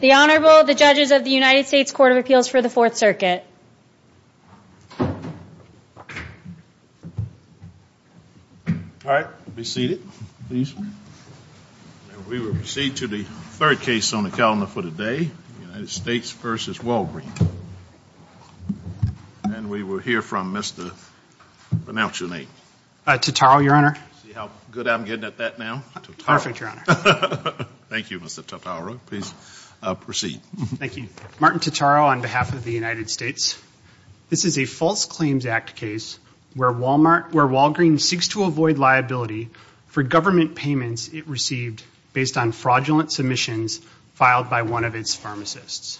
The Honorable, the Judges of the United States Court of Appeals for the Fourth Circuit. All right, be seated, please. We will proceed to the third case on the calendar for today, United States v. Walgreen. And we will hear from Mr.... pronounce your name. Tataro, Your Honor. See how good I'm getting at that now? Perfect, Your Honor. Thank you, Mr. Tataro. Please proceed. Thank you. Martin Tataro on behalf of the United States. This is a False Claims Act case where Walgreen seeks to avoid liability for government payments it received based on fraudulent submissions filed by one of its pharmacists.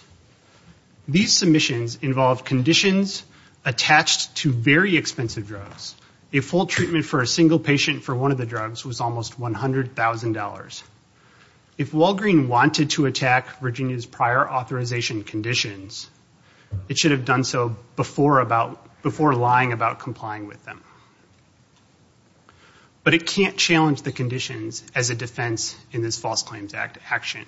These submissions involved conditions attached to very expensive drugs. A full treatment for a single patient for one of the drugs was almost $100,000. If Walgreen wanted to attack Virginia's prior authorization conditions, it should have done so before lying about complying with them. But it can't challenge the conditions as a defense in this False Claims Act action.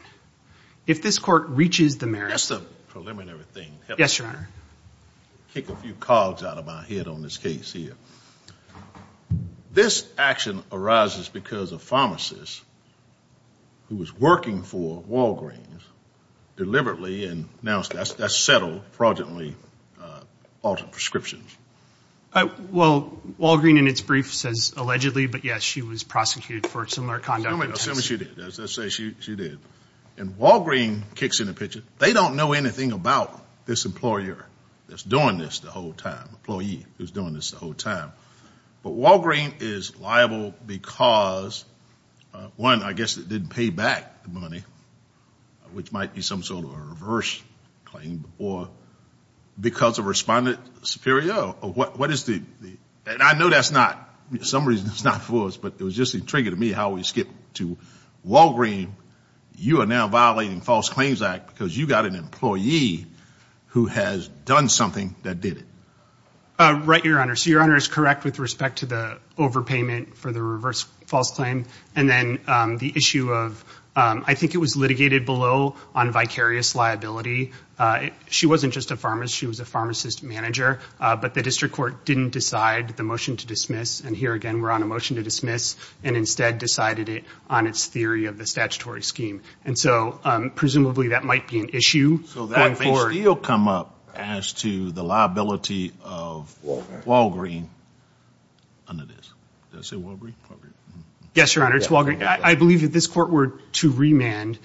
If this Court reaches the merit... That's the preliminary thing. Yes, Your Honor. I'll kick a few cogs out of my head on this case here. This action arises because a pharmacist who was working for Walgreen deliberately and now has settled fraudulently altered prescriptions. Well, Walgreen in its brief says allegedly, but yes, she was prosecuted for similar conduct. I'm going to assume she did. As I say, she did. And Walgreen kicks in the picture. They don't know anything about this employer that's doing this the whole time, employee who's doing this the whole time. But Walgreen is liable because, one, I guess it didn't pay back the money, which might be some sort of a reverse claim, or because of respondent superior. What is the... And I know that's not... It was just intriguing to me how we skipped to Walgreen. You are now violating the False Claims Act because you've got an employee who has done something that did it. Right, Your Honor. So Your Honor is correct with respect to the overpayment for the reverse false claim. And then the issue of... I think it was litigated below on vicarious liability. She wasn't just a pharmacist. She was a pharmacist manager. But the District Court didn't decide the motion to dismiss. And here again we're on a motion to dismiss and instead decided it on its theory of the statutory scheme. And so presumably that might be an issue going forward. So that may still come up as to the liability of Walgreen under this. Did I say Walgreen? Yes, Your Honor. It's Walgreen. I believe that this court were to remand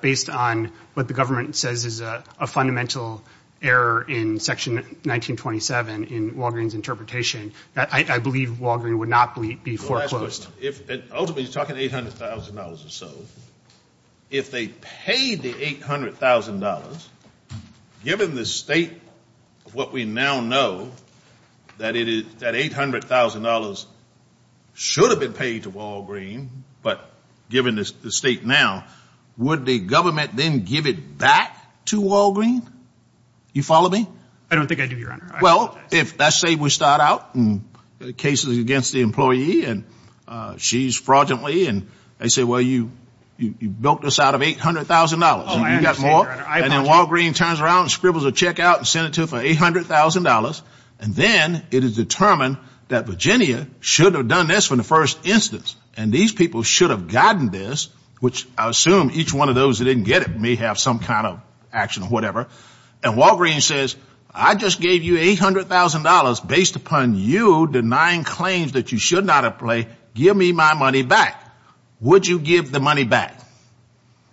based on what the government says is a fundamental error in Section 1927 in Walgreen's interpretation. I believe Walgreen would not be foreclosed. Ultimately you're talking $800,000 or so. If they paid the $800,000, given the state of what we now know, that $800,000 should have been paid to Walgreen, but given the state now, would the government then give it back to Walgreen? You follow me? I don't think I do, Your Honor. Well, let's say we start out in cases against the employee and she's fraudulently and they say, well, you built us out of $800,000. You got more? And then Walgreen turns around and scribbles a check out and sends it to her for $800,000. And then it is determined that Virginia should have done this from the first instance. And these people should have gotten this, which I assume each one of those that didn't get it may have some kind of action or whatever. And Walgreen says, I just gave you $800,000 based upon you denying claims that you should not have played. Give me my money back. Would you give the money back?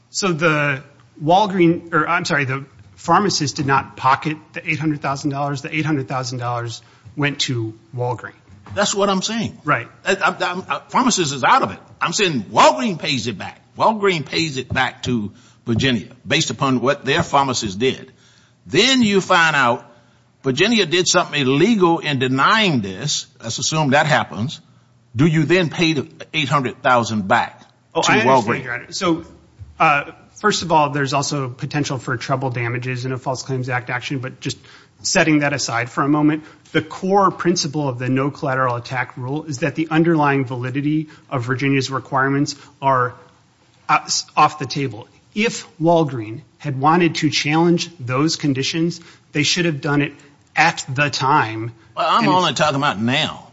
So the Walgreen or I'm sorry, the pharmacist did not pocket the $800,000. The $800,000 went to Walgreen. That's what I'm saying. Right. Pharmacist is out of it. I'm saying Walgreen pays it back. Walgreen pays it back to Virginia based upon what their pharmacist did. Then you find out Virginia did something illegal in denying this. Let's assume that happens. Do you then pay the $800,000 back to Walgreen? So first of all, there's also potential for trouble damages in a False Claims Act action. But just setting that aside for a moment, the core principle of the no collateral attack rule is that the underlying validity of Virginia's requirements are off the table. If Walgreen had wanted to challenge those conditions, they should have done it at the time. I'm only talking about now.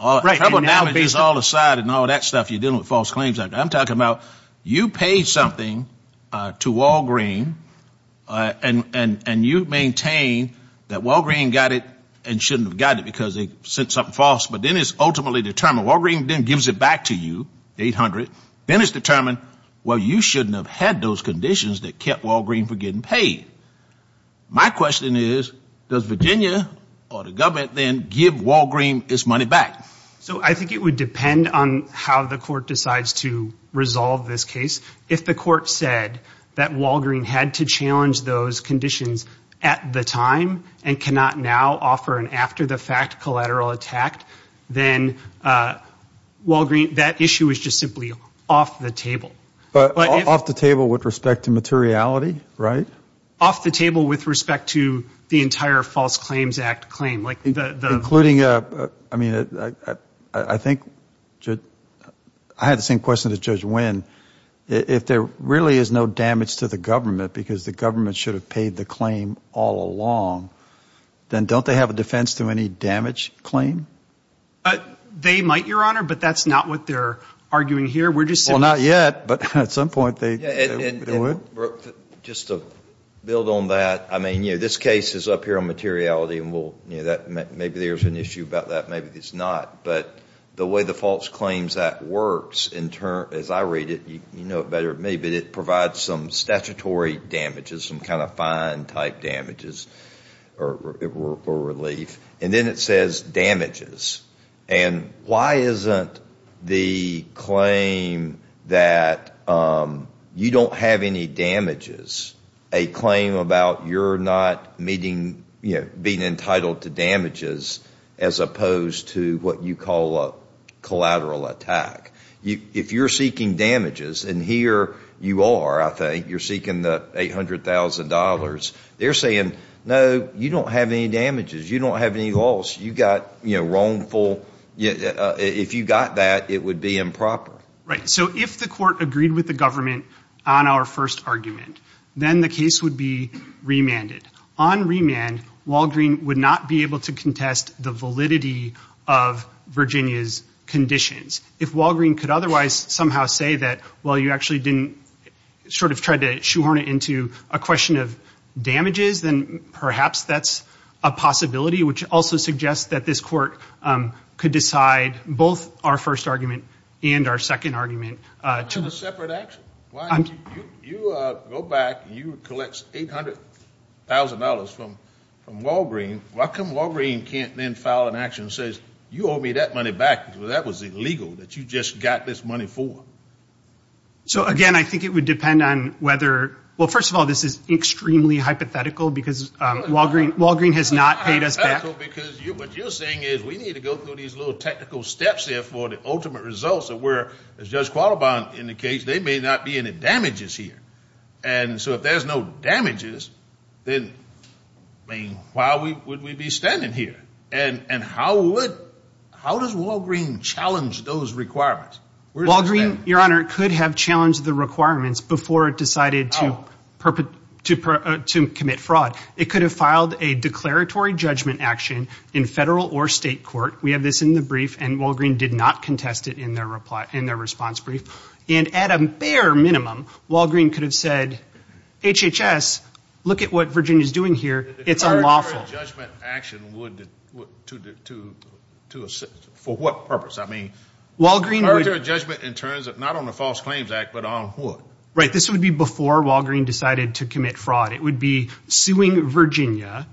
Trouble damages all aside and all that stuff, you're dealing with False Claims Act. I'm talking about you pay something to Walgreen and you maintain that Walgreen got it and shouldn't have got it because they sent something false. But then it's ultimately determined Walgreen then gives it back to you, the $800,000. Then it's determined, well, you shouldn't have had those conditions that kept Walgreen from getting paid. My question is, does Virginia or the government then give Walgreen its money back? So I think it would depend on how the court decides to resolve this case. If the court said that Walgreen had to challenge those conditions at the time and cannot now offer an after-the-fact collateral attack, then Walgreen, that issue is just simply off the table. Off the table with respect to materiality, right? Off the table with respect to the entire False Claims Act claim. Including, I mean, I think I had the same question as Judge Wynn. If there really is no damage to the government because the government should have paid the claim all along, then don't they have a defense to any damage claim? They might, Your Honor, but that's not what they're arguing here. Well, not yet, but at some point they would. Just to build on that, I mean, this case is up here on materiality. Maybe there's an issue about that, maybe there's not. But the way the False Claims Act works, as I read it, you know it better, but it provides some statutory damages, some kind of fine-type damages or relief. And then it says damages. And why isn't the claim that you don't have any damages a claim about you're not being entitled to damages as opposed to what you call a collateral attack? If you're seeking damages, and here you are, I think, you're seeking the $800,000, they're saying, no, you don't have any damages, you don't have any loss, you've got, you know, wrongful, if you got that, it would be improper. Right. So if the court agreed with the government on our first argument, then the case would be remanded. On remand, Walgreen would not be able to contest the validity of Virginia's conditions. If Walgreen could otherwise somehow say that, well, you actually didn't sort of try to shoehorn it into a question of damages, then perhaps that's a possibility, which also suggests that this court could decide both our first argument and our second argument. You have a separate action. You go back and you collect $800,000 from Walgreen. Why come Walgreen can't then file an action that says, you owe me that money back, because that was illegal, that you just got this money for? So, again, I think it would depend on whether, well, first of all, this is extremely hypothetical because Walgreen has not paid us back. Because what you're saying is we need to go through these little technical steps here for the ultimate results of where, as Judge Qualibon indicates, they may not be any damages here. And so if there's no damages, then why would we be standing here? And how does Walgreen challenge those requirements? Walgreen, Your Honor, could have challenged the requirements before it decided to commit fraud. It could have filed a declaratory judgment action in federal or state court. We have this in the brief, and Walgreen did not contest it in their response brief. And at a bare minimum, Walgreen could have said, HHS, look at what Virginia's doing here. It's unlawful. A declaratory judgment action would, for what purpose? I mean, a declaratory judgment in terms of not on the False Claims Act, but on what? Right, this would be before Walgreen decided to commit fraud. It would be suing Virginia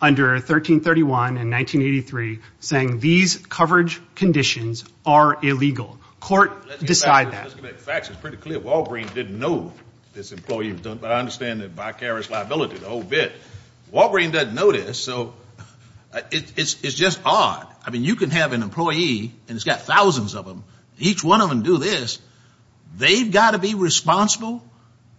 under 1331 and 1983, saying these coverage conditions are illegal. The court decided that. Let me just make facts. It's pretty clear Walgreen didn't know this employee was doing it. But I understand the vicarious liability, the whole bit. Walgreen doesn't know this, so it's just odd. I mean, you can have an employee, and it's got thousands of them. Each one of them do this. They've got to be responsible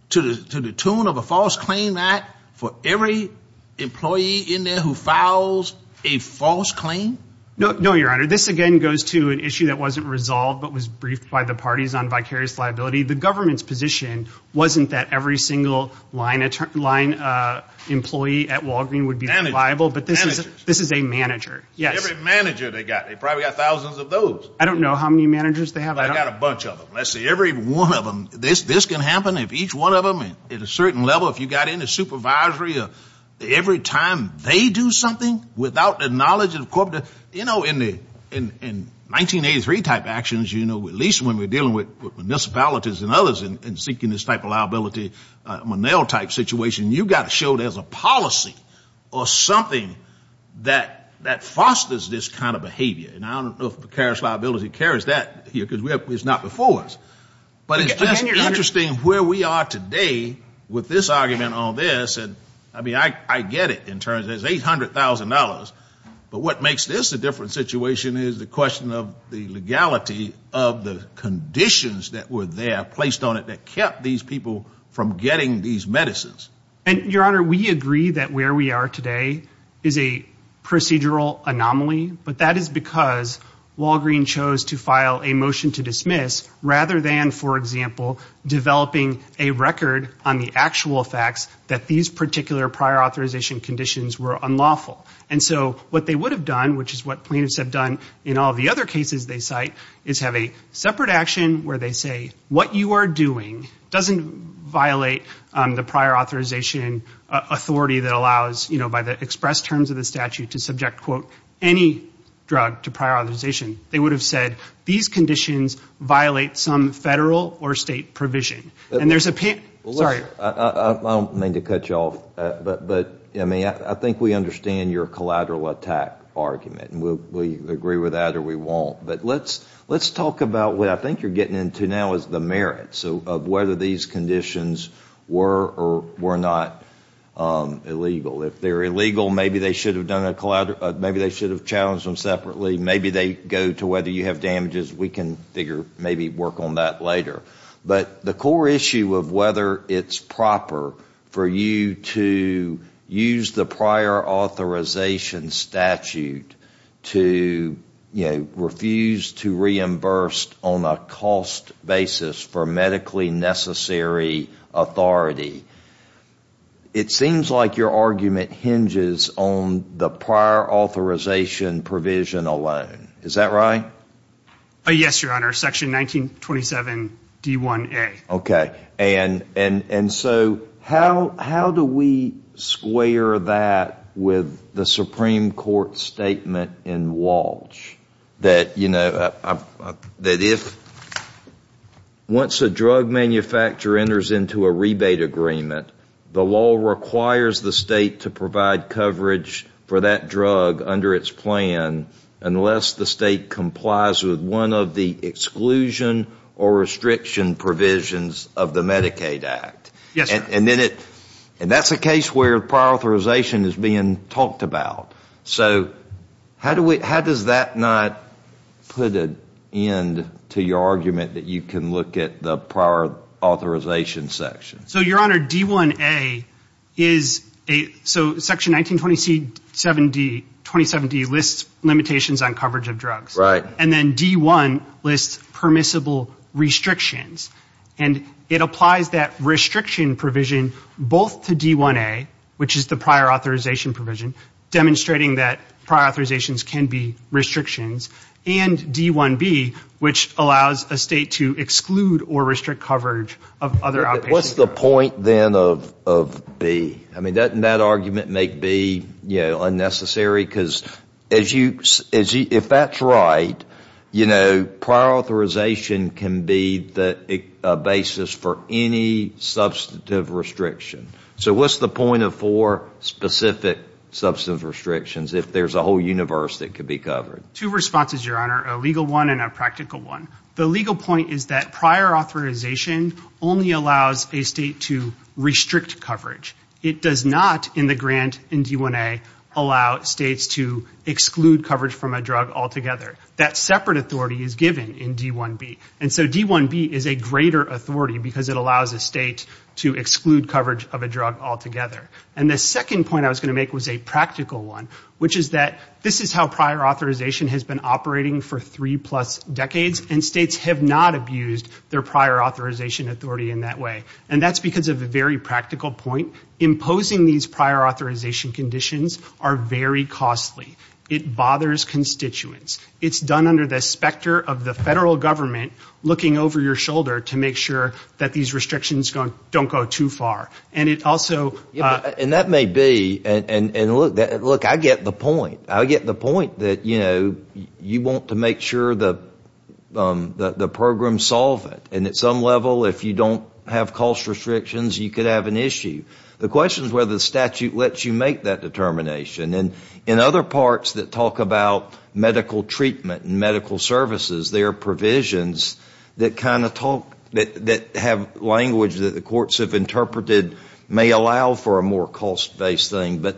to the tune of a False Claims Act for every employee in there who files a false claim? No, Your Honor. This, again, goes to an issue that wasn't resolved, but was briefed by the parties on vicarious liability. The government's position wasn't that every single line employee at Walgreen would be liable. Managers. Managers. This is a manager, yes. Every manager they've got. They've probably got thousands of those. I don't know how many managers they have. I've got a bunch of them. Let's see, every one of them. This can happen if each one of them, at a certain level, if you've got any supervisory, every time they do something without the knowledge of the corporate, you know, in 1983-type actions, at least when we're dealing with municipalities and others and seeking this type of liability, Monell-type situation, you've got to show there's a policy or something that fosters this kind of behavior. And I don't know if vicarious liability carries that here, because it's not before us. But it's just interesting where we are today with this argument on this. I mean, I get it in terms of $800,000, but what makes this a different situation is the question of the legality of the conditions that were there placed on it that kept these people from getting these medicines. And, Your Honor, we agree that where we are today is a procedural anomaly, but that is because Walgreen chose to file a motion to dismiss rather than, for example, developing a record on the actual facts that these particular prior authorization conditions were unlawful. And so what they would have done, which is what plaintiffs have done in all the other cases they cite, is have a separate action where they say, what you are doing doesn't violate the prior authorization authority that allows, by the expressed terms of the statute, to subject, quote, any drug to prior authorization. They would have said, these conditions violate some federal or state provision. I don't mean to cut you off, but, I mean, I think we understand your collateral attack argument, and we'll agree with that or we won't. But let's talk about what I think you're getting into now is the merits of whether these conditions were or were not illegal. If they're illegal, maybe they should have challenged them separately. Maybe they go to whether you have damages. We can figure, maybe work on that later. But the core issue of whether it's proper for you to use the prior authorization statute to, you know, make sure that your argument hinges on the prior authorization provision alone. Is that right? Yes, Your Honor. Section 1927D1A. Okay. And so how do we square that with the Supreme Court statement in Walsh that, you know, that if once a drug manufacturer enters into a rebate agreement, the law requires the state to provide coverage for that drug under its plan unless the state complies with one of the exclusion or restriction provisions of the Medicaid Act? Yes, sir. And that's a case where prior authorization is being talked about. So how do we, how does that not put an end to your argument that you can look at the prior authorization section? So, Your Honor, D1A is a, so Section 1927D lists limitations on coverage of drugs. Right. And then D1 lists permissible restrictions. And it applies that restriction provision both to D1A, which is the prior authorization and D1B, which allows a state to exclude or restrict coverage of other outpatient drugs. What's the point then of B? I mean, doesn't that argument make B, you know, unnecessary? Because as you, if that's right, you know, prior authorization can be the basis for any substantive restriction. So what's the point of four specific substantive restrictions if there's a whole universe that could be covered? Two responses, Your Honor, a legal one and a practical one. The legal point is that prior authorization only allows a state to restrict coverage. It does not, in the grant in D1A, allow states to exclude coverage from a drug altogether. That separate authority is given in D1B. And so D1B is a greater authority because it allows a state to exclude coverage of a drug altogether. And the second point I was going to make was a practical one, which is that this is how prior authorization has been operating for three plus decades, and states have not abused their prior authorization authority in that way. And that's because of a very practical point. Imposing these prior authorization conditions are very costly. It bothers constituents. It's done under the specter of the federal government looking over your shoulder to make sure that these restrictions don't go too far. And it also ‑‑ And that may be, and look, I get the point. I get the point that, you know, you want to make sure the programs solve it. And at some level, if you don't have cost restrictions, you could have an issue. The question is whether the statute lets you make that determination. And in other parts that talk about medical treatment and medical services, there are provisions that kind of talk, that have language that the courts have interpreted may allow for a more cost‑based thing. But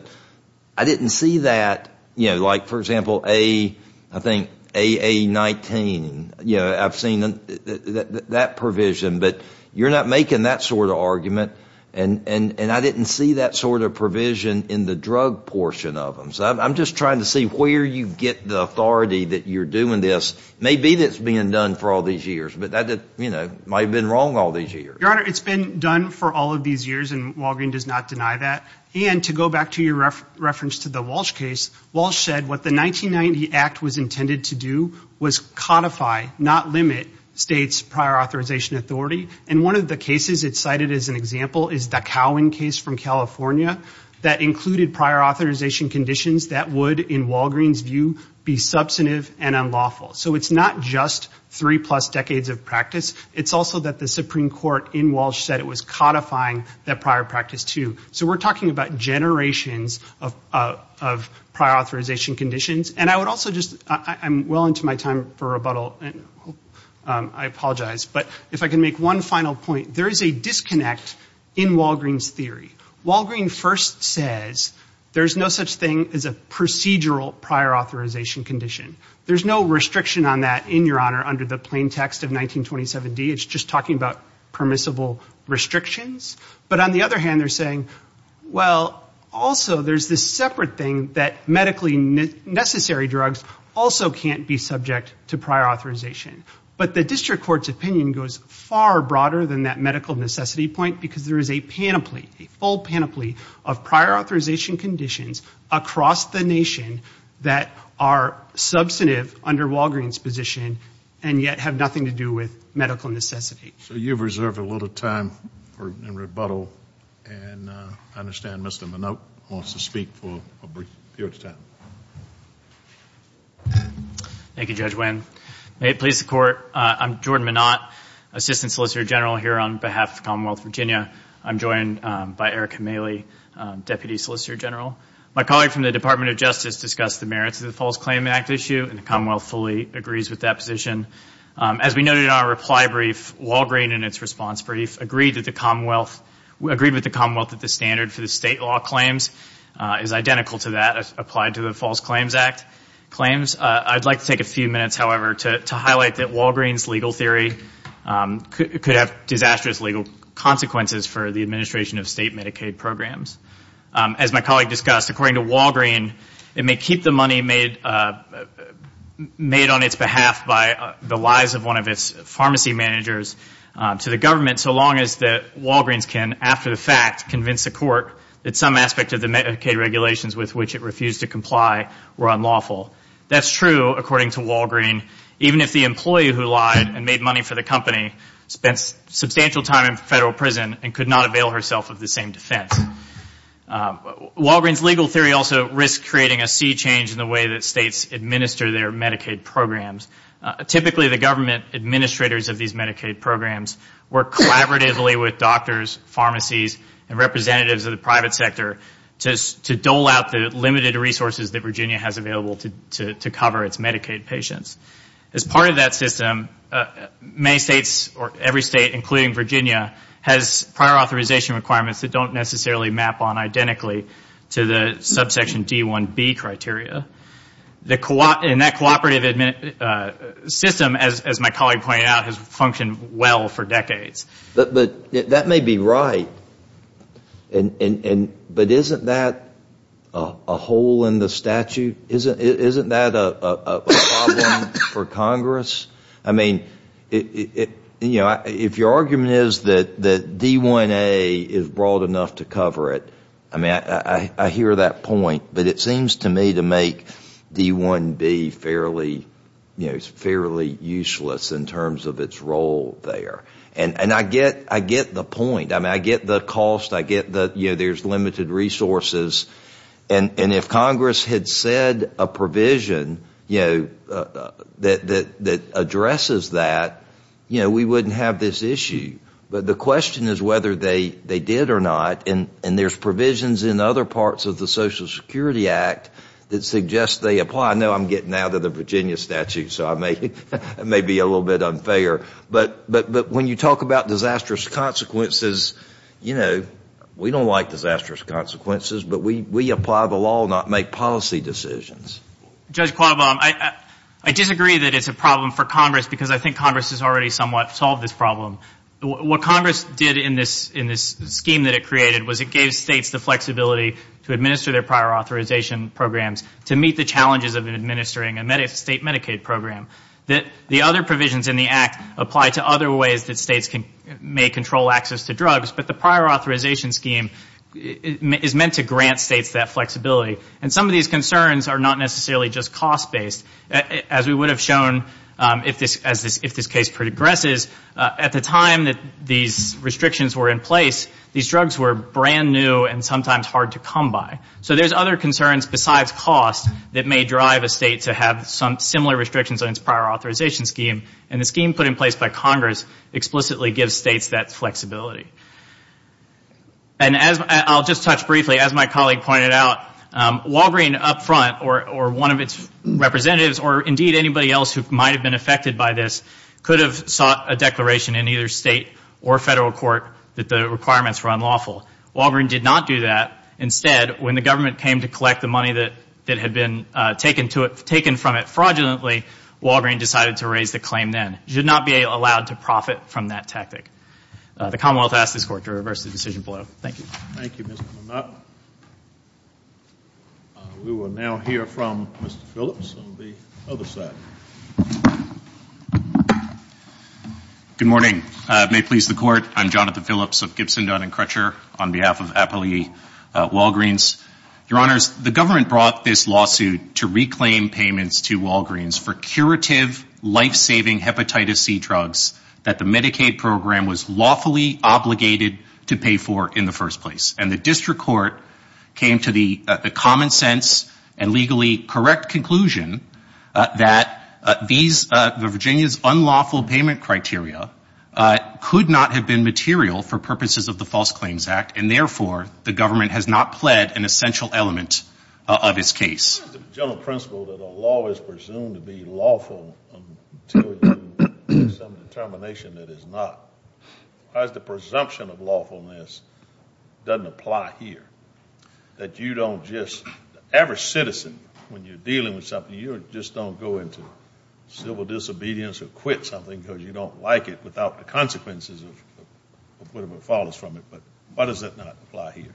I didn't see that, you know, like, for example, I think AA19. You know, I've seen that provision. But you're not making that sort of argument. And I didn't see that sort of provision in the drug portion of them. So I'm just trying to see where you get the authority that you're doing this. Maybe it's being done for all these years. But that might have been wrong all these years. Your Honor, it's been done for all of these years, and Walgreen does not deny that. And to go back to your reference to the Walsh case, Walsh said what the 1990 Act was intended to do was codify, not limit, states' prior authorization authority. And one of the cases it cited as an example is the Cowan case from California that included prior authorization conditions that would, in Walgreen's view, be substantive and unlawful. So it's not just three‑plus decades of practice. It's also that the Supreme Court in Walsh said it was codifying that prior practice, too. So we're talking about generations of prior authorization conditions. And I would also just ‑‑ I'm well into my time for rebuttal, and I apologize. But if I can make one final point, there is a disconnect in Walgreen's theory. Walgreen first says there's no such thing as a procedural prior authorization condition. There's no restriction on that, in your Honor, under the plain text of 1927d. It's just talking about permissible restrictions. But on the other hand, they're saying, well, also there's this separate thing that medically necessary drugs also can't be subject to prior authorization. But the district court's opinion goes far broader than that medical necessity point, because there is a panoply, a full panoply of prior authorization conditions across the nation that are substantive under Walgreen's position and yet have nothing to do with medical necessity. So you've reserved a little time for rebuttal. And I understand Mr. Minot wants to speak for a period of time. Thank you, Judge Winn. May it please the Court, I'm Jordan Minot, Assistant Solicitor General here on behalf of the Commonwealth of Virginia. I'm joined by Eric Kamele, Deputy Solicitor General. My colleague from the Department of Justice discussed the merits of the False Claim Act issue, and the Commonwealth fully agrees with that position. As we noted in our reply brief, Walgreen, in its response brief, agreed with the Commonwealth that the standard for the state law claims is identical to that applied to the False Claims Act claims. I'd like to take a few minutes, however, to highlight that Walgreen's legal theory could have disastrous legal consequences for the administration of state Medicaid programs. As my colleague discussed, according to Walgreen, it may keep the money made on its behalf by the lives of one of its pharmacy managers to the government, so long as Walgreen's can, after the fact, convince the Court that some aspect of the Medicaid regulations with which it refused to comply were unlawful. That's true, according to Walgreen, even if the employee who lied and made money for the company spent substantial time in federal prison and could not avail herself of the same defense. Walgreen's legal theory also risks creating a sea change in the way that states administer their Medicaid programs. Typically, the government administrators of these Medicaid programs work collaboratively with doctors, pharmacies, and representatives of the private sector to dole out the limited resources that Virginia has available to cover its Medicaid patients. As part of that system, every state, including Virginia, has prior authorization requirements that don't necessarily map on identically to the subsection D-1B criteria. And that cooperative system, as my colleague pointed out, has functioned well for decades. That may be right, but isn't that a hole in the statute? Isn't that a problem for Congress? If your argument is that D-1A is broad enough to cover it, I hear that point, but it seems to me to make D-1B fairly useless in terms of its role there. And I get the point. I get the cost, I get that there's limited resources, and if Congress had said a provision that addresses that, we wouldn't have this issue. But the question is whether they did or not, and there's provisions in other parts of the Social Security Act that suggest they apply. I know I'm getting out of the Virginia statute, so it may be a little bit unfair. But when you talk about disastrous consequences, we don't like disastrous consequences, but we apply the law, not make policy decisions. Judge Qualbaum, I disagree that it's a problem for Congress, because I think Congress has already somewhat solved this problem. What Congress did in this scheme that it created was it gave states the flexibility to administer their prior authorization programs to meet the challenges of administering a state Medicaid program. The other provisions in the Act apply to other ways that states may control access to drugs, but the prior authorization scheme is meant to grant states that flexibility. And some of these concerns are not necessarily just cost-based. As we would have shown if this case progresses, at the time that these restrictions were in place, these drugs were brand new and sometimes hard to come by. So there's other concerns besides cost that may drive a state to have similar restrictions on its prior authorization scheme, and the scheme put in place by Congress explicitly gives states that flexibility. And I'll just touch briefly, as my colleague pointed out, Walgreen up front or one of its representatives or indeed anybody else who might have been affected by this could have sought a declaration in either state or federal court that the requirements were unlawful. Walgreen did not do that. Instead, when the government came to collect the money that had been taken from it fraudulently, Walgreen decided to raise the claim then. And the government should not be allowed to profit from that tactic. The Commonwealth asked this Court to reverse the decision below. Thank you. We will now hear from Mr. Phillips on the other side. Good morning. May it please the Court, I'm Jonathan Phillips of Gibson, Dunn & Crutcher on behalf of Appalachee Walgreens. Your Honors, the government brought this lawsuit to reclaim payments to Walgreens for curative, life-saving hepatitis C drugs that the Medicaid program was lawfully obligated to pay for in the first place. And the district court came to the common sense and legally correct conclusion that these, the Virginia's unlawful payment criteria could not have been material for purposes of the False Claims Act, and therefore the government has not pled an essential element of this case. The general principle that a law is presumed to be lawful until you make some determination that it is not. As the presumption of lawfulness doesn't apply here, that you don't just, every citizen, when you're dealing with something, you just don't go into civil disobedience or quit something because you don't like it without the consequences of whatever follows from it. But why does it not apply here?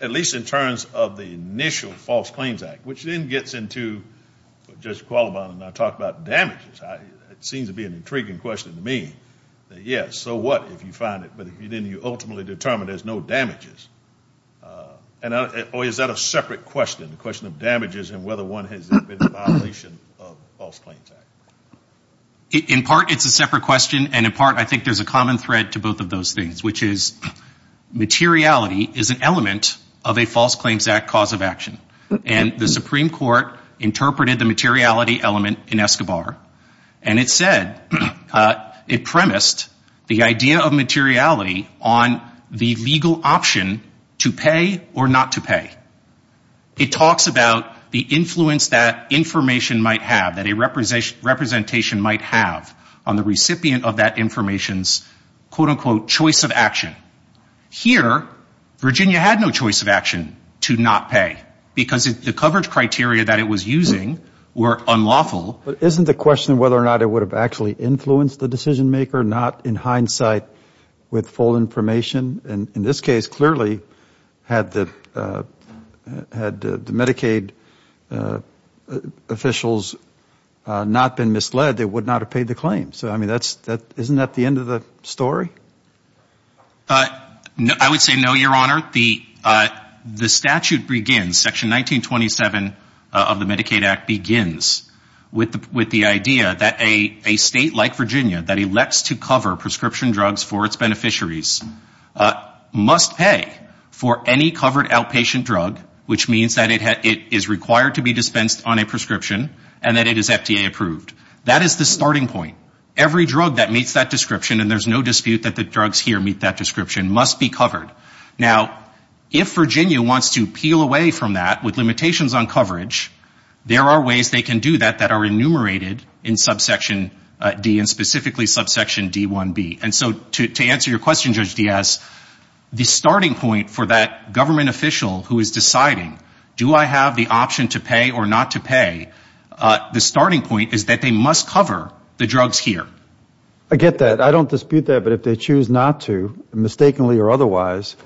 At least in terms of the initial False Claims Act, which then gets into, Judge Qualibon and I talked about damages. It seems to be an intriguing question to me. Yes, so what if you find it, but then you ultimately determine there's no damages. Or is that a separate question, the question of damages and whether one has been in violation of False Claims Act? In part it's a separate question, and in part I think there's a common thread to both of those things, which is materiality is an element of a False Claims Act cause of action. And the Supreme Court interpreted the materiality element in Escobar, and it said, it premised the idea of materiality on the legal option to pay or not to pay. It talks about the influence that information might have, that a representation might have on the recipient of that information's, quote, unquote, choice of action. Here, Virginia had no choice of action to not pay because the coverage criteria that it was using were unlawful. But isn't the question whether or not it would have actually influenced the decision maker, not in hindsight with full information? And in this case, clearly, had the Medicaid officials not been misled, they would not have paid the claim. So, I mean, isn't that the end of the story? I would say no, Your Honor. The statute begins, Section 1927 of the Medicaid Act begins with the idea that a state like Virginia that elects to cover prescription drugs for its beneficiaries must pay for any covered outpatient drug, which means that it is required to be dispensed on a prescription and that it is FDA approved. That is the starting point. Every drug that meets that description, and there's no dispute that the drugs here meet that description, must be covered. Now, if Virginia wants to peel away from that with limitations on coverage, there are ways they can do that that are enumerated in Subsection D, and specifically Subsection D-1B. And so to answer your question, Judge Diaz, the starting point for that government official who is deciding, do I have the option to pay or not to pay, the starting point is that they must cover the drug subscription that's here. I get that. I don't dispute that, but if they choose not to, mistakenly or otherwise,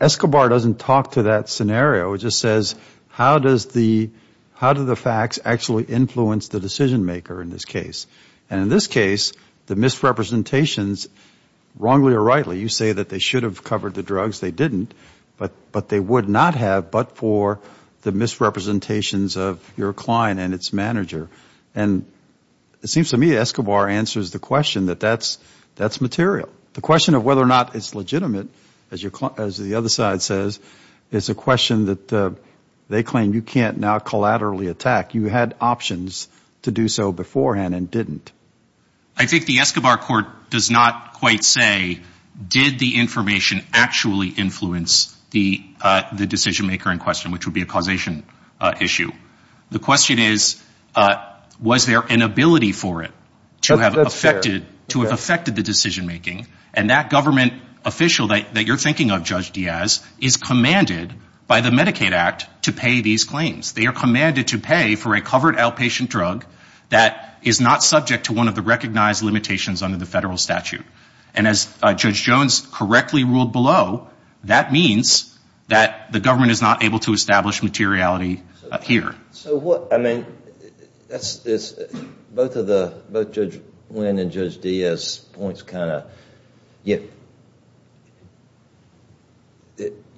Escobar doesn't talk to that scenario. It just says, how do the facts actually influence the decision maker in this case? And in this case, the misrepresentations, wrongly or rightly, you say that they should have covered the drugs. They didn't, but they would not have but for the misrepresentations of your client and its manager. And it seems to me Escobar answers the question that that's material. The question of whether or not it's legitimate, as the other side says, is a question that they claim you can't now collaterally attack. You had options to do so beforehand and didn't. I think the Escobar court does not quite say, did the information actually influence the decision maker in question, which would be a causation issue. The question is, was there an ability for it to have affected the decision making? And that government official that you're thinking of, Judge Diaz, is commanded by the Medicaid Act to pay these claims. They are commanded to pay for a covered outpatient drug that is not subject to one of the recognized limitations under the federal statute. And as Judge Jones correctly ruled below, that means that the government is not able to establish a drug subscription. They can't establish materiality here. Both Judge Wynn and Judge Diaz's points kind of,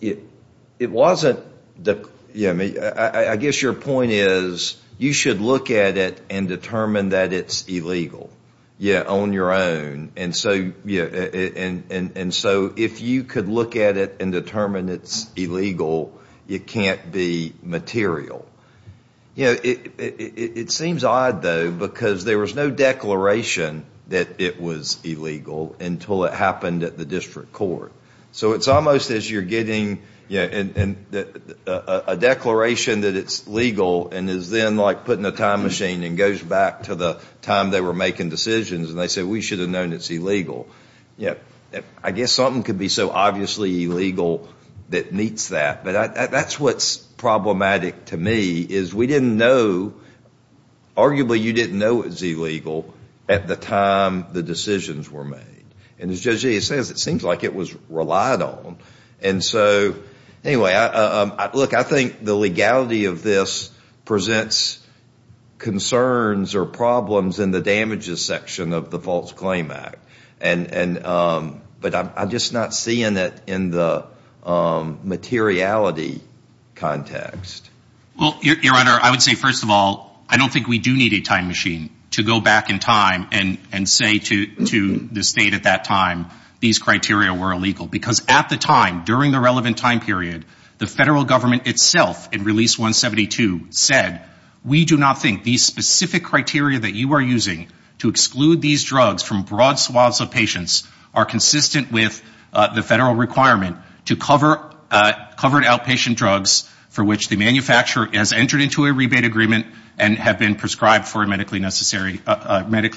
it wasn't... I guess your point is, you should look at it and determine that it's illegal on your own. And so if you could look at it and determine it's illegal, you can't be material. It seems odd, though, because there was no declaration that it was illegal until it happened at the district court. So it's almost as you're getting a declaration that it's legal and is then like putting a time machine and goes back to the time they were making decisions and they say, we should have known it's illegal. I guess something could be so obviously illegal that meets that. But that's what's problematic to me, is we didn't know, arguably you didn't know it was illegal at the time the decisions were made. And as Judge Diaz says, it seems like it was relied on. And so, anyway, look, I think the legality of this presents concerns or problems in the damages section of the Medicaid Act. But I'm just not seeing it in the materiality context. Well, Your Honor, I would say, first of all, I don't think we do need a time machine to go back in time and say to the state at that time, these criteria were illegal. Because at the time, during the relevant time period, the federal government itself in Release 172 said, we do not think these specific criteria that you are using to exclude these drugs from broad swaths of patients are consistent with the federal requirement to cover outpatient drugs for which the manufacturer has entered into a rebate agreement and have been prescribed for a medically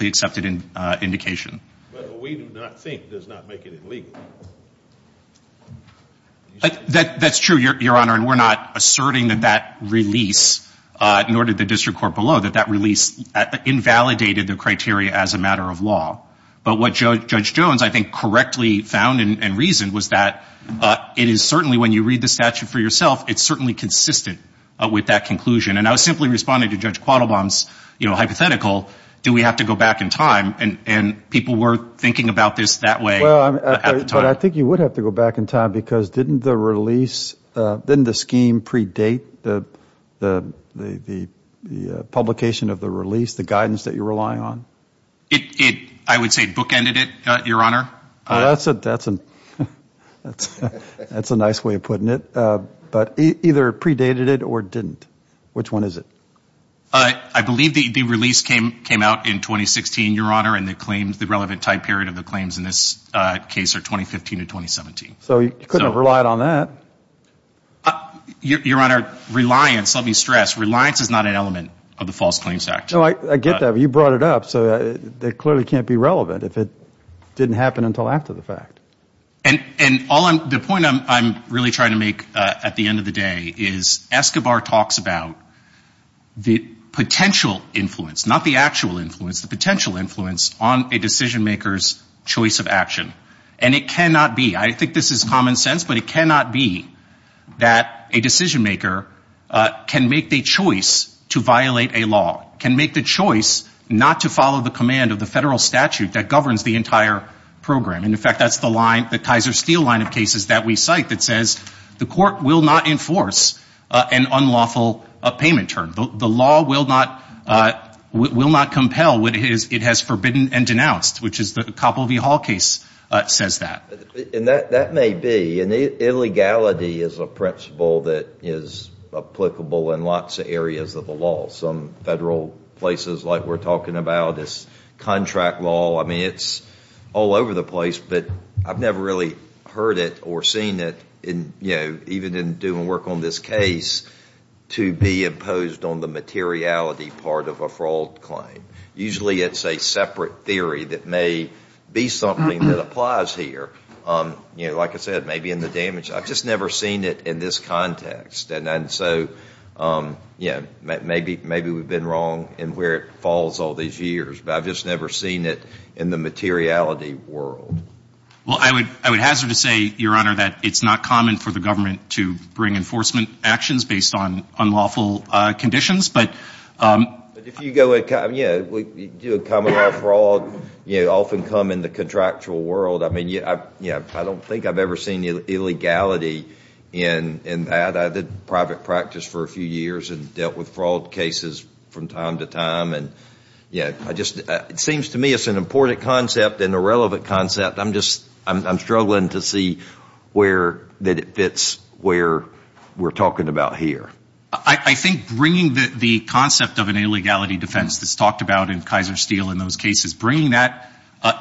accepted indication. But we do not think does not make it illegal. That's true, Your Honor, and we're not asserting that that release, nor did the district court below, that that release invalidated the criteria as a matter of law. But what Judge Jones, I think, correctly found and reasoned was that it is certainly, when you read the statute for yourself, it's certainly consistent with that conclusion. And I was simply responding to Judge Quattlebaum's hypothetical, do we have to go back in time? And people were thinking about this that way at the time. But I think you would have to go back in time because didn't the release, didn't the scheme predate the publication of the release, the guidance that you're relying on? It, I would say, bookended it, Your Honor. That's a nice way of putting it. But either predated it or didn't. Which one is it? I believe the release came out in 2016, Your Honor, and the claims, the relevant type period of the claims in this case are 2015 to 2017. So you couldn't have relied on that. Your Honor, reliance, let me stress, reliance is not an element of the False Claims Act. No, I get that, but you brought it up, so it clearly can't be relevant if it didn't happen until after the fact. And the point I'm really trying to make at the end of the day is Escobar talks about the potential influence, not the actual influence, the potential influence on a decision maker's choice of action. And it cannot be, I think this is common sense, but it cannot be that a decision maker can make the choice to violate a law, can make the choice to violate a law. Can make the choice not to follow the command of the federal statute that governs the entire program. And in fact, that's the line, the Kaiser Steel line of cases that we cite that says the court will not enforce an unlawful payment term. The law will not compel what it has forbidden and denounced, which is the Koppel v. Hall case says that. And that may be, and illegality is a principle that is applicable in lots of areas of the law. Some federal places like we're talking about, it's contract law. I mean, it's all over the place, but I've never really heard it or seen it, even in doing work on this case, to be imposed on the materiality part of a fraud claim. Usually it's a separate theory that may be something that applies here. Like I said, maybe in the damage, I've just never seen it in this context. And so, yeah, maybe we've been wrong in where it falls all these years. But I've just never seen it in the materiality world. Well, I would hazard to say, Your Honor, that it's not common for the government to bring enforcement actions based on unlawful conditions. But if you do a common law fraud, you often come in the contractual world. I mean, yeah, I don't think I've ever seen illegality in that. I did private practice for a few years and dealt with fraud cases from time to time. And, yeah, I just, it seems to me it's an important concept and a relevant concept. I'm just, I'm struggling to see where, that it fits where we're talking about here. I think bringing the concept of an illegality defense that's talked about in Kaiser Steel in those cases, bringing that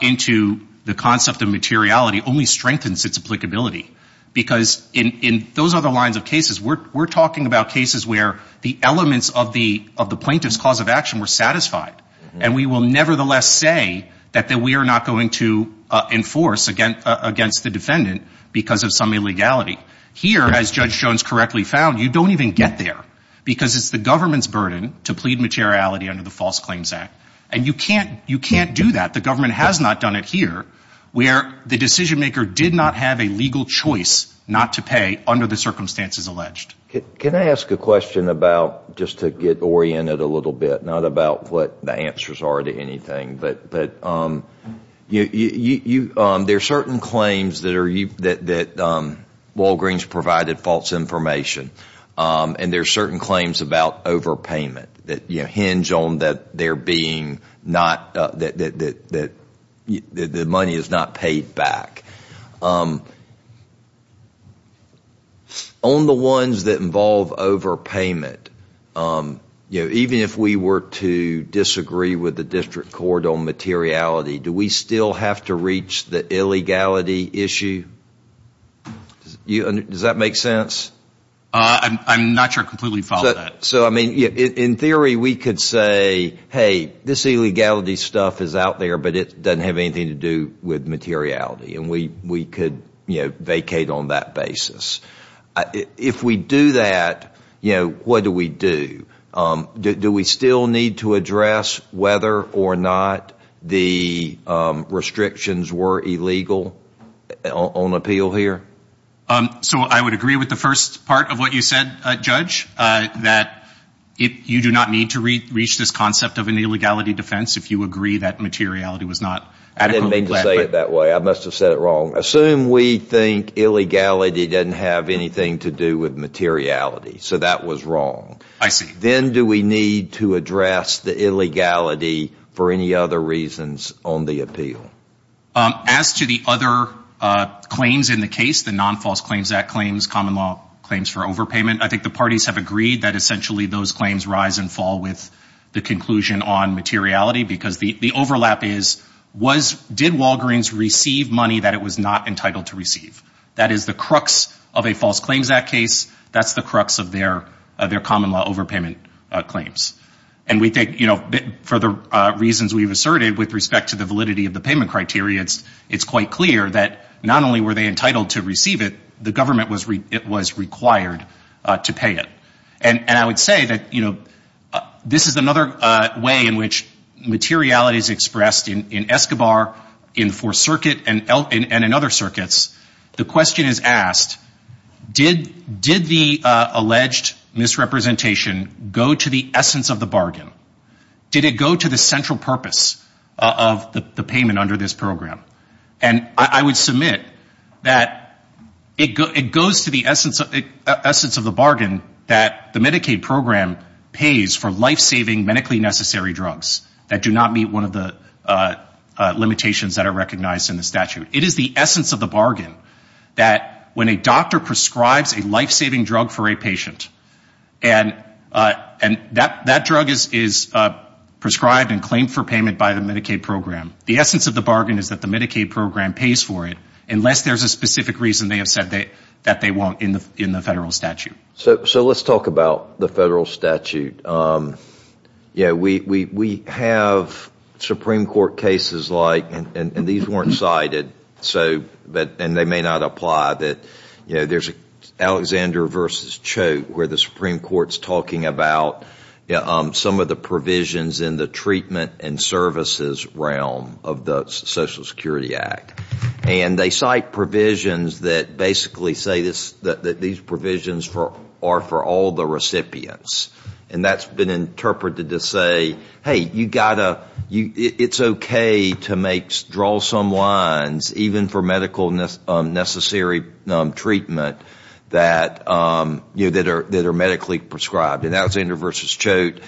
into the concept of materiality only strengthens its applicability. Because in those other lines of cases, we're talking about cases where the elements of the plaintiff's cause of action were satisfied. And we will nevertheless say that we are not going to enforce against the defendant because of some illegality. Here, as Judge Jones correctly found, you don't even get there because it's the government's burden to plead materiality under the False Claims Act. And you can't do that. The government has not done it here where the decision maker did not have a legal choice not to pay under the circumstances alleged. Can I ask a question about, just to get oriented a little bit, not about what the answers are to anything. There are certain claims that Walgreens provided false information. And there are certain claims about overpayment that hinge on their being not, that the money is not paid back. On the ones that involve overpayment, even if we were to disagree with the district court on materiality, do we still have to reach the illegality issue? Does that make sense? I'm not sure I completely follow that. In theory, we could say, hey, this illegality stuff is out there, but it doesn't have anything to do with materiality. And we could vacate on that basis. If we do that, what do we do? Do we still need to address whether or not the restrictions were illegal on appeal here? So I would agree with the first part of what you said, Judge, that you do not need to reach this concept of an illegality defense if you agree that materiality was not. I didn't mean to say it that way. I must have said it wrong. Assume we think illegality doesn't have anything to do with materiality. So that was wrong. I see. Then do we need to address the illegality for any other reasons on the appeal? As to the other claims in the case, the Non-False Claims Act claims, common law claims for overpayment, I think the parties have agreed that essentially those claims rise and fall with the conclusion on materiality, because the overlap is, did Walgreens receive money that it was not entitled to receive? That is the crux of a False Claims Act case. That's the crux of their common law overpayment claims. And we think, you know, for the reasons we've asserted with respect to the validity of the payment criteria, it's quite clear that not only were they entitled to receive it, the government was required to pay it. And I would say that, you know, this is another way in which materiality is expressed in Escobar, in the Fourth Circuit, and in other circuits. The question is asked, did the alleged misrepresentation go to the essence of the bargain? Did it go to the central purpose of the payment under this program? And I would submit that it goes to the essence of the bargain, that the Medicaid program pays for lifesaving medically necessary drugs that do not meet one of the limitations that are recognized in the statute. It is the essence of the bargain that when a doctor prescribes a lifesaving drug for a patient, and that drug is prescribed and claimed for payment by the Medicaid program, the essence of the bargain is that the Medicaid program pays for it, unless there's a specific reason they have said that they won't in the federal statute. So let's talk about the federal statute. You know, we have Supreme Court cases like, and these weren't cited, and they may not apply, that there's Alexander v. Choate, where the Supreme Court's talking about some of the provisions in the treatment and services realm of the Social Security Act. And they cite provisions that basically say that these provisions are for all the recipients. And that's been interpreted to say, hey, it's okay to draw some lines, even for medical necessary treatment that are medically prescribed. And that was Alexander v. Choate.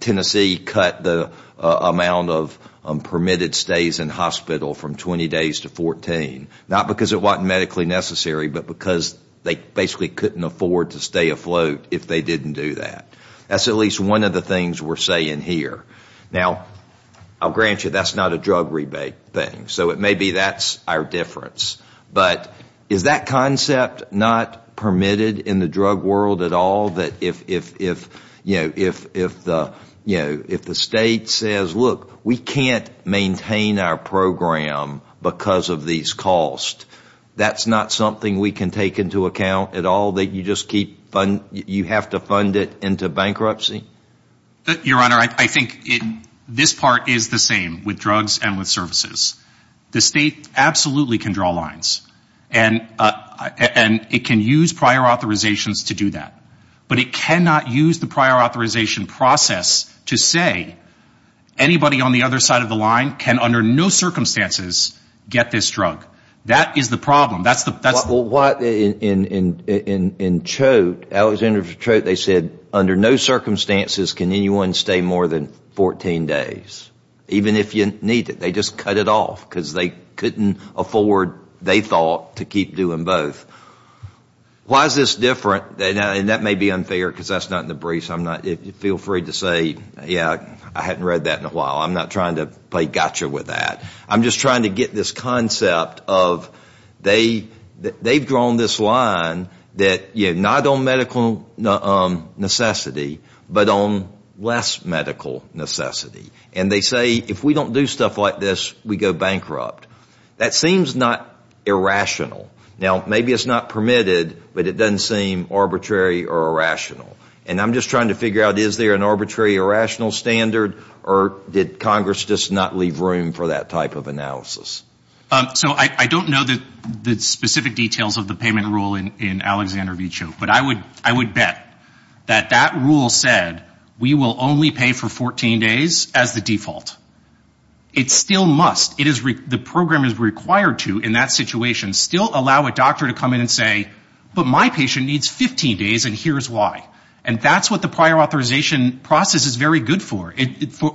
Tennessee cut the amount of permitted stays in hospital from 20 days to 14, not because it wasn't medically necessary, but because they basically couldn't afford to stay afloat if they didn't do that. That's at least one of the things we're saying here. Now, I'll grant you, that's not a drug rebate thing. So maybe that's our difference. But is that concept not permitted in the drug world at all, that if the state says, look, we can't maintain our program because of these costs, that's not something we can take into account at all, that you have to fund it into bankruptcy? Your Honor, I think this part is the same with drugs and with services. The state absolutely can draw lines. And it can use prior authorizations to do that. But it cannot use the prior authorization process to say anybody on the other side of the line can under no circumstances get this drug. That is the problem. In Choate, they said under no circumstances can anyone stay more than 14 days, even if you need it. They just cut it off because they couldn't afford, they thought, to keep doing both. Why is this different? And that may be unfair because that's not in the briefs. Feel free to say, yeah, I hadn't read that in a while. I'm not trying to play gotcha with that. I'm just trying to get this concept of they've drawn this line that not on medical necessity, but on less medical necessity. And they say if we don't do stuff like this, we go bankrupt. That seems not irrational. Now, maybe it's not permitted, but it doesn't seem arbitrary or irrational. And I'm just trying to figure out, is there an arbitrary or rational standard, or did Congress just not leave room for that type of analysis? So I don't know the specific details of the payment rule in Alexander v. Choate, but I would bet that that rule said we will only pay for 14 days as the default. It still must, the program is required to in that situation, still allow a doctor to come in and say, but my patient needs 15 days and here's why. And that's what the prior authorization process is very good for.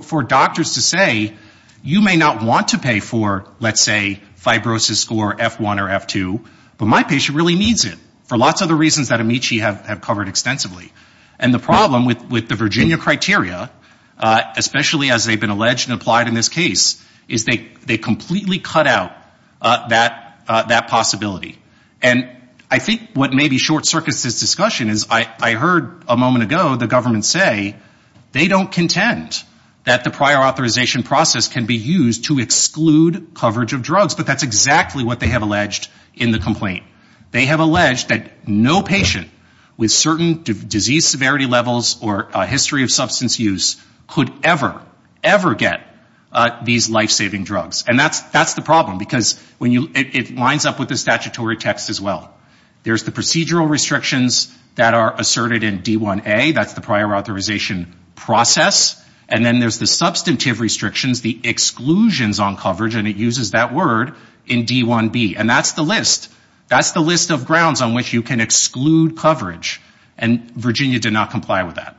For doctors to say you may not want to pay for, let's say, fibrosis score F1 or F2, but my patient really needs it for lots of the reasons that Amici have covered extensively. And the problem with the Virginia criteria, especially as they've been alleged and applied in this case, is they completely cut out that possibility. And I think what may be short-circuited this discussion is I heard a moment ago the government say they don't contend that the prior authorization process can be used to exclude coverage of drugs, but that's exactly what they have alleged in the complaint. They have alleged that no patient with certain disease severity levels or history of substance use could ever, ever get these life-saving drugs. And that's the problem, because it lines up with the statutory text as well. There's the procedural restrictions that are asserted in D1A, that's the prior authorization process. And then there's the substantive restrictions, the exclusions on coverage, and it uses that word in D1B. And that's the list. That's the list of grounds on which you can exclude coverage. And Virginia did not comply with that.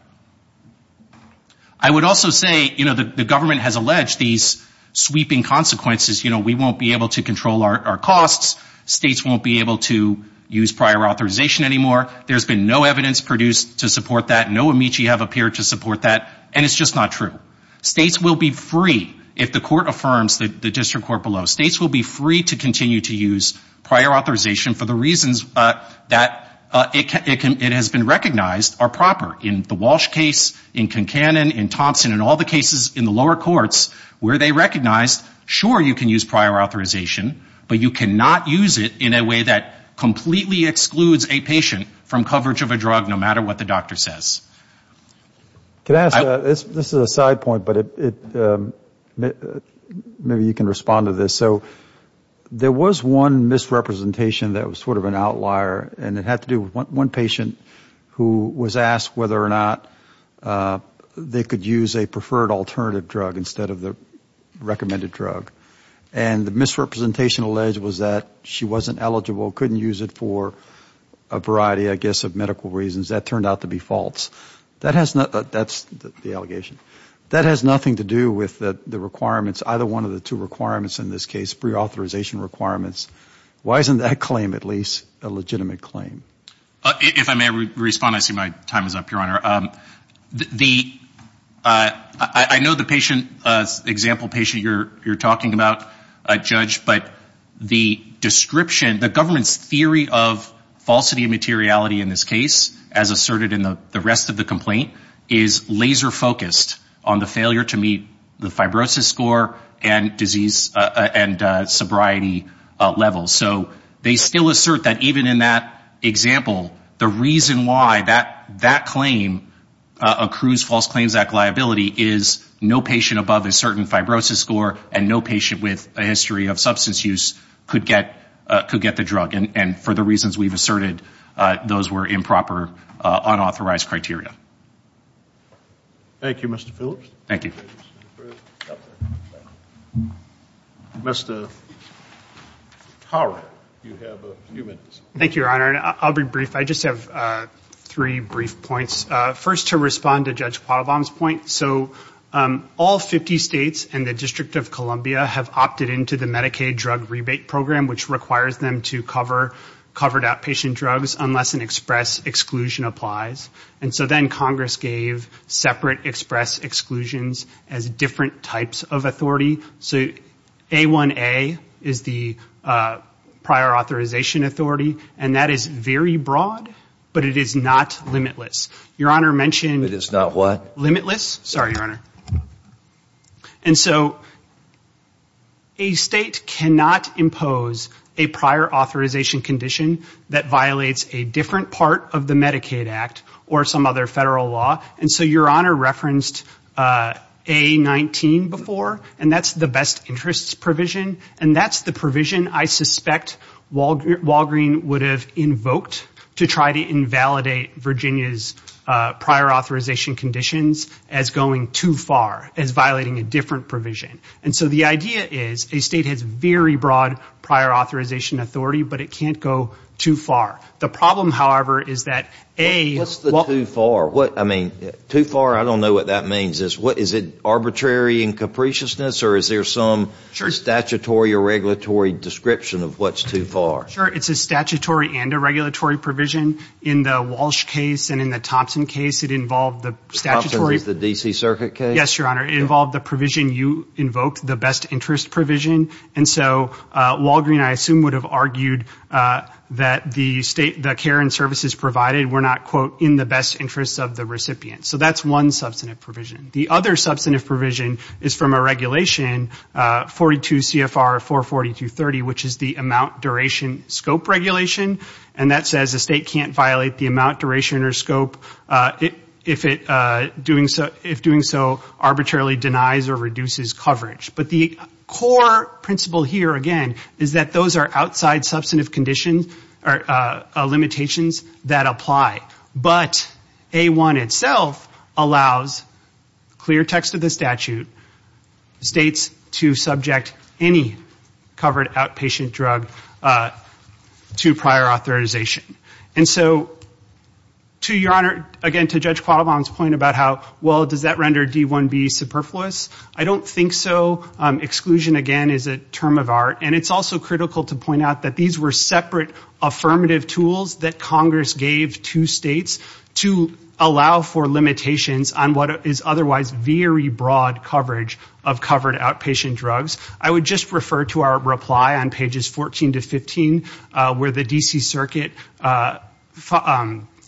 I would also say, you know, the government has alleged these sweeping consequences. You know, we won't be able to control our costs. States won't be able to use prior authorization anymore. There's been no evidence produced to support that. No amici have appeared to support that. And it's just not true. States will be free, if the court affirms, the district court below. States will be free to continue to use prior authorization for the reasons that it has been recognized are proper. In the Walsh case, in Concanon, in Thompson, in all the cases in the lower courts where they recognized, sure, you can use prior authorization, but you cannot use it in a way that completely excludes a patient from coverage of a drug, no matter what the doctor says. This is a side point, but maybe you can respond to this. So there was one misrepresentation that was sort of an outlier, and it had to do with one patient who was asked whether or not they could use a preferred alternative drug instead of the recommended drug. And the misrepresentation alleged was that she wasn't eligible, couldn't use it for a variety, I guess, of medical reasons. That turned out to be false. That has nothing to do with the requirements, either one of the two requirements in this case, prior authorization requirements. Why isn't that claim, at least, a legitimate claim? If I may respond, I see my time is up, Your Honor. I know the patient, example patient you're talking about, a judge, but the description, the government's theory of falsity of materiality in this case, as asserted in the rest of the complaint, is laser-focused on the failure to meet the fibrosis score and disease and sobriety levels. So they still assert that even in that example, the reason why that claim accrues false claims liability is no patient above a certain fibrosis score and no patient with a history of substance use could get the drug. And for the reasons we've asserted, those were improper, unauthorized criteria. Thank you, Mr. Phillips. Mr. Howard, you have a few minutes. Thank you, Your Honor. I'll be brief. I just have three brief points. First, to respond to Judge Quattlebaum's point. So all 50 states and the District of Columbia have opted into the Medicaid drug rebate program, which requires them to cover covered-up patient drugs unless an express exclusion applies. And so then Congress gave separate express exclusions as different types of authority. So A1A is the prior authorization authority, and that is very broad, but it is not limitless. Your Honor mentioned... ...a prior authorization condition that violates a different part of the Medicaid Act or some other federal law. And so Your Honor referenced A19 before, and that's the best interests provision. And that's the provision I suspect Walgreen would have invoked to try to invalidate Virginia's prior authorization conditions as going too far, as violating a different provision. And so the idea is a state has very broad prior authorization authority, but it can't go too far. The problem, however, is that A... What's the too far? Too far, I don't know what that means. Is it arbitrary and capriciousness? Or is there some statutory or regulatory description of what's too far? Sure. It's a statutory and a regulatory provision. In the Walsh case and in the Thompson case, it involved the statutory... ...and invoked the best interest provision. And so Walgreen, I assume, would have argued that the state... ...the care and services provided were not, quote, in the best interest of the recipient. So that's one substantive provision. The other substantive provision is from a regulation, 42 CFR 44230, which is the amount duration scope regulation. And that says a state can't violate the amount duration or scope if doing so arbitrarily denies or reduces coverage. But the core principle here, again, is that those are outside substantive conditions or limitations that apply. But A1 itself allows clear text of the statute, states to subject any covered outpatient drug to prior authorization. And so to your honor, again, to Judge Quattlebaum's point about how, well, does that render D1B superfluous? I don't think so. Exclusion, again, is a term of art. And it's also critical to point out that these were separate affirmative tools that Congress gave to states to allow for limitations... ...on what is otherwise very broad coverage of covered outpatient drugs. I would just refer to our reply on pages 14 to 15 where the D.C. Circuit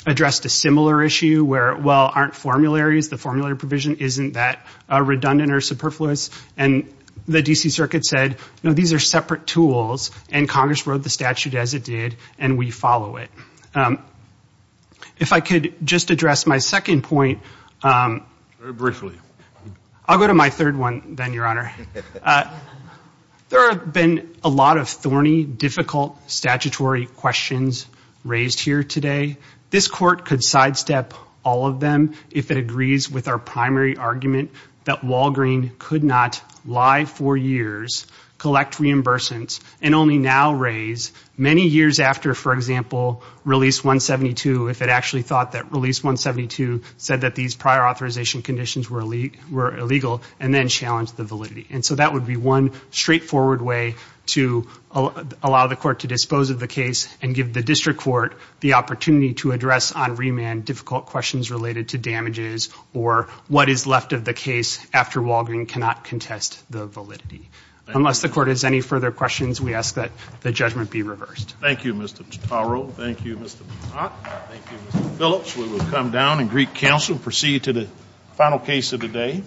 addressed a similar issue where, well, aren't formularies. The formulary provision isn't that redundant or superfluous. And the D.C. Circuit said, no, these are separate tools, and Congress wrote the statute as it did, and we follow it. If I could just address my second point... Very briefly. I'll go to my third one then, your honor. There have been a lot of thorny, difficult statutory questions raised here today. This court could sidestep all of them if it agrees with our primary argument that Walgreen could not lie for years, collect reimbursements... ...and only now raise, many years after, for example, release 172, if it actually thought that release 172 said that these prior authorization conditions were illegal... ...and then challenge the validity. And so that would be one straightforward way to allow the court to dispose of the case and give the district court the opportunity to address on remand... ...difficult questions related to damages or what is left of the case after Walgreen cannot contest the validity. Unless the court has any further questions, we ask that the judgment be reversed. Thank you, Mr. Totaro. Thank you, Mr. Patak. Thank you, Mr. Phillips. We will come down and greet counsel and proceed to the final case of the day.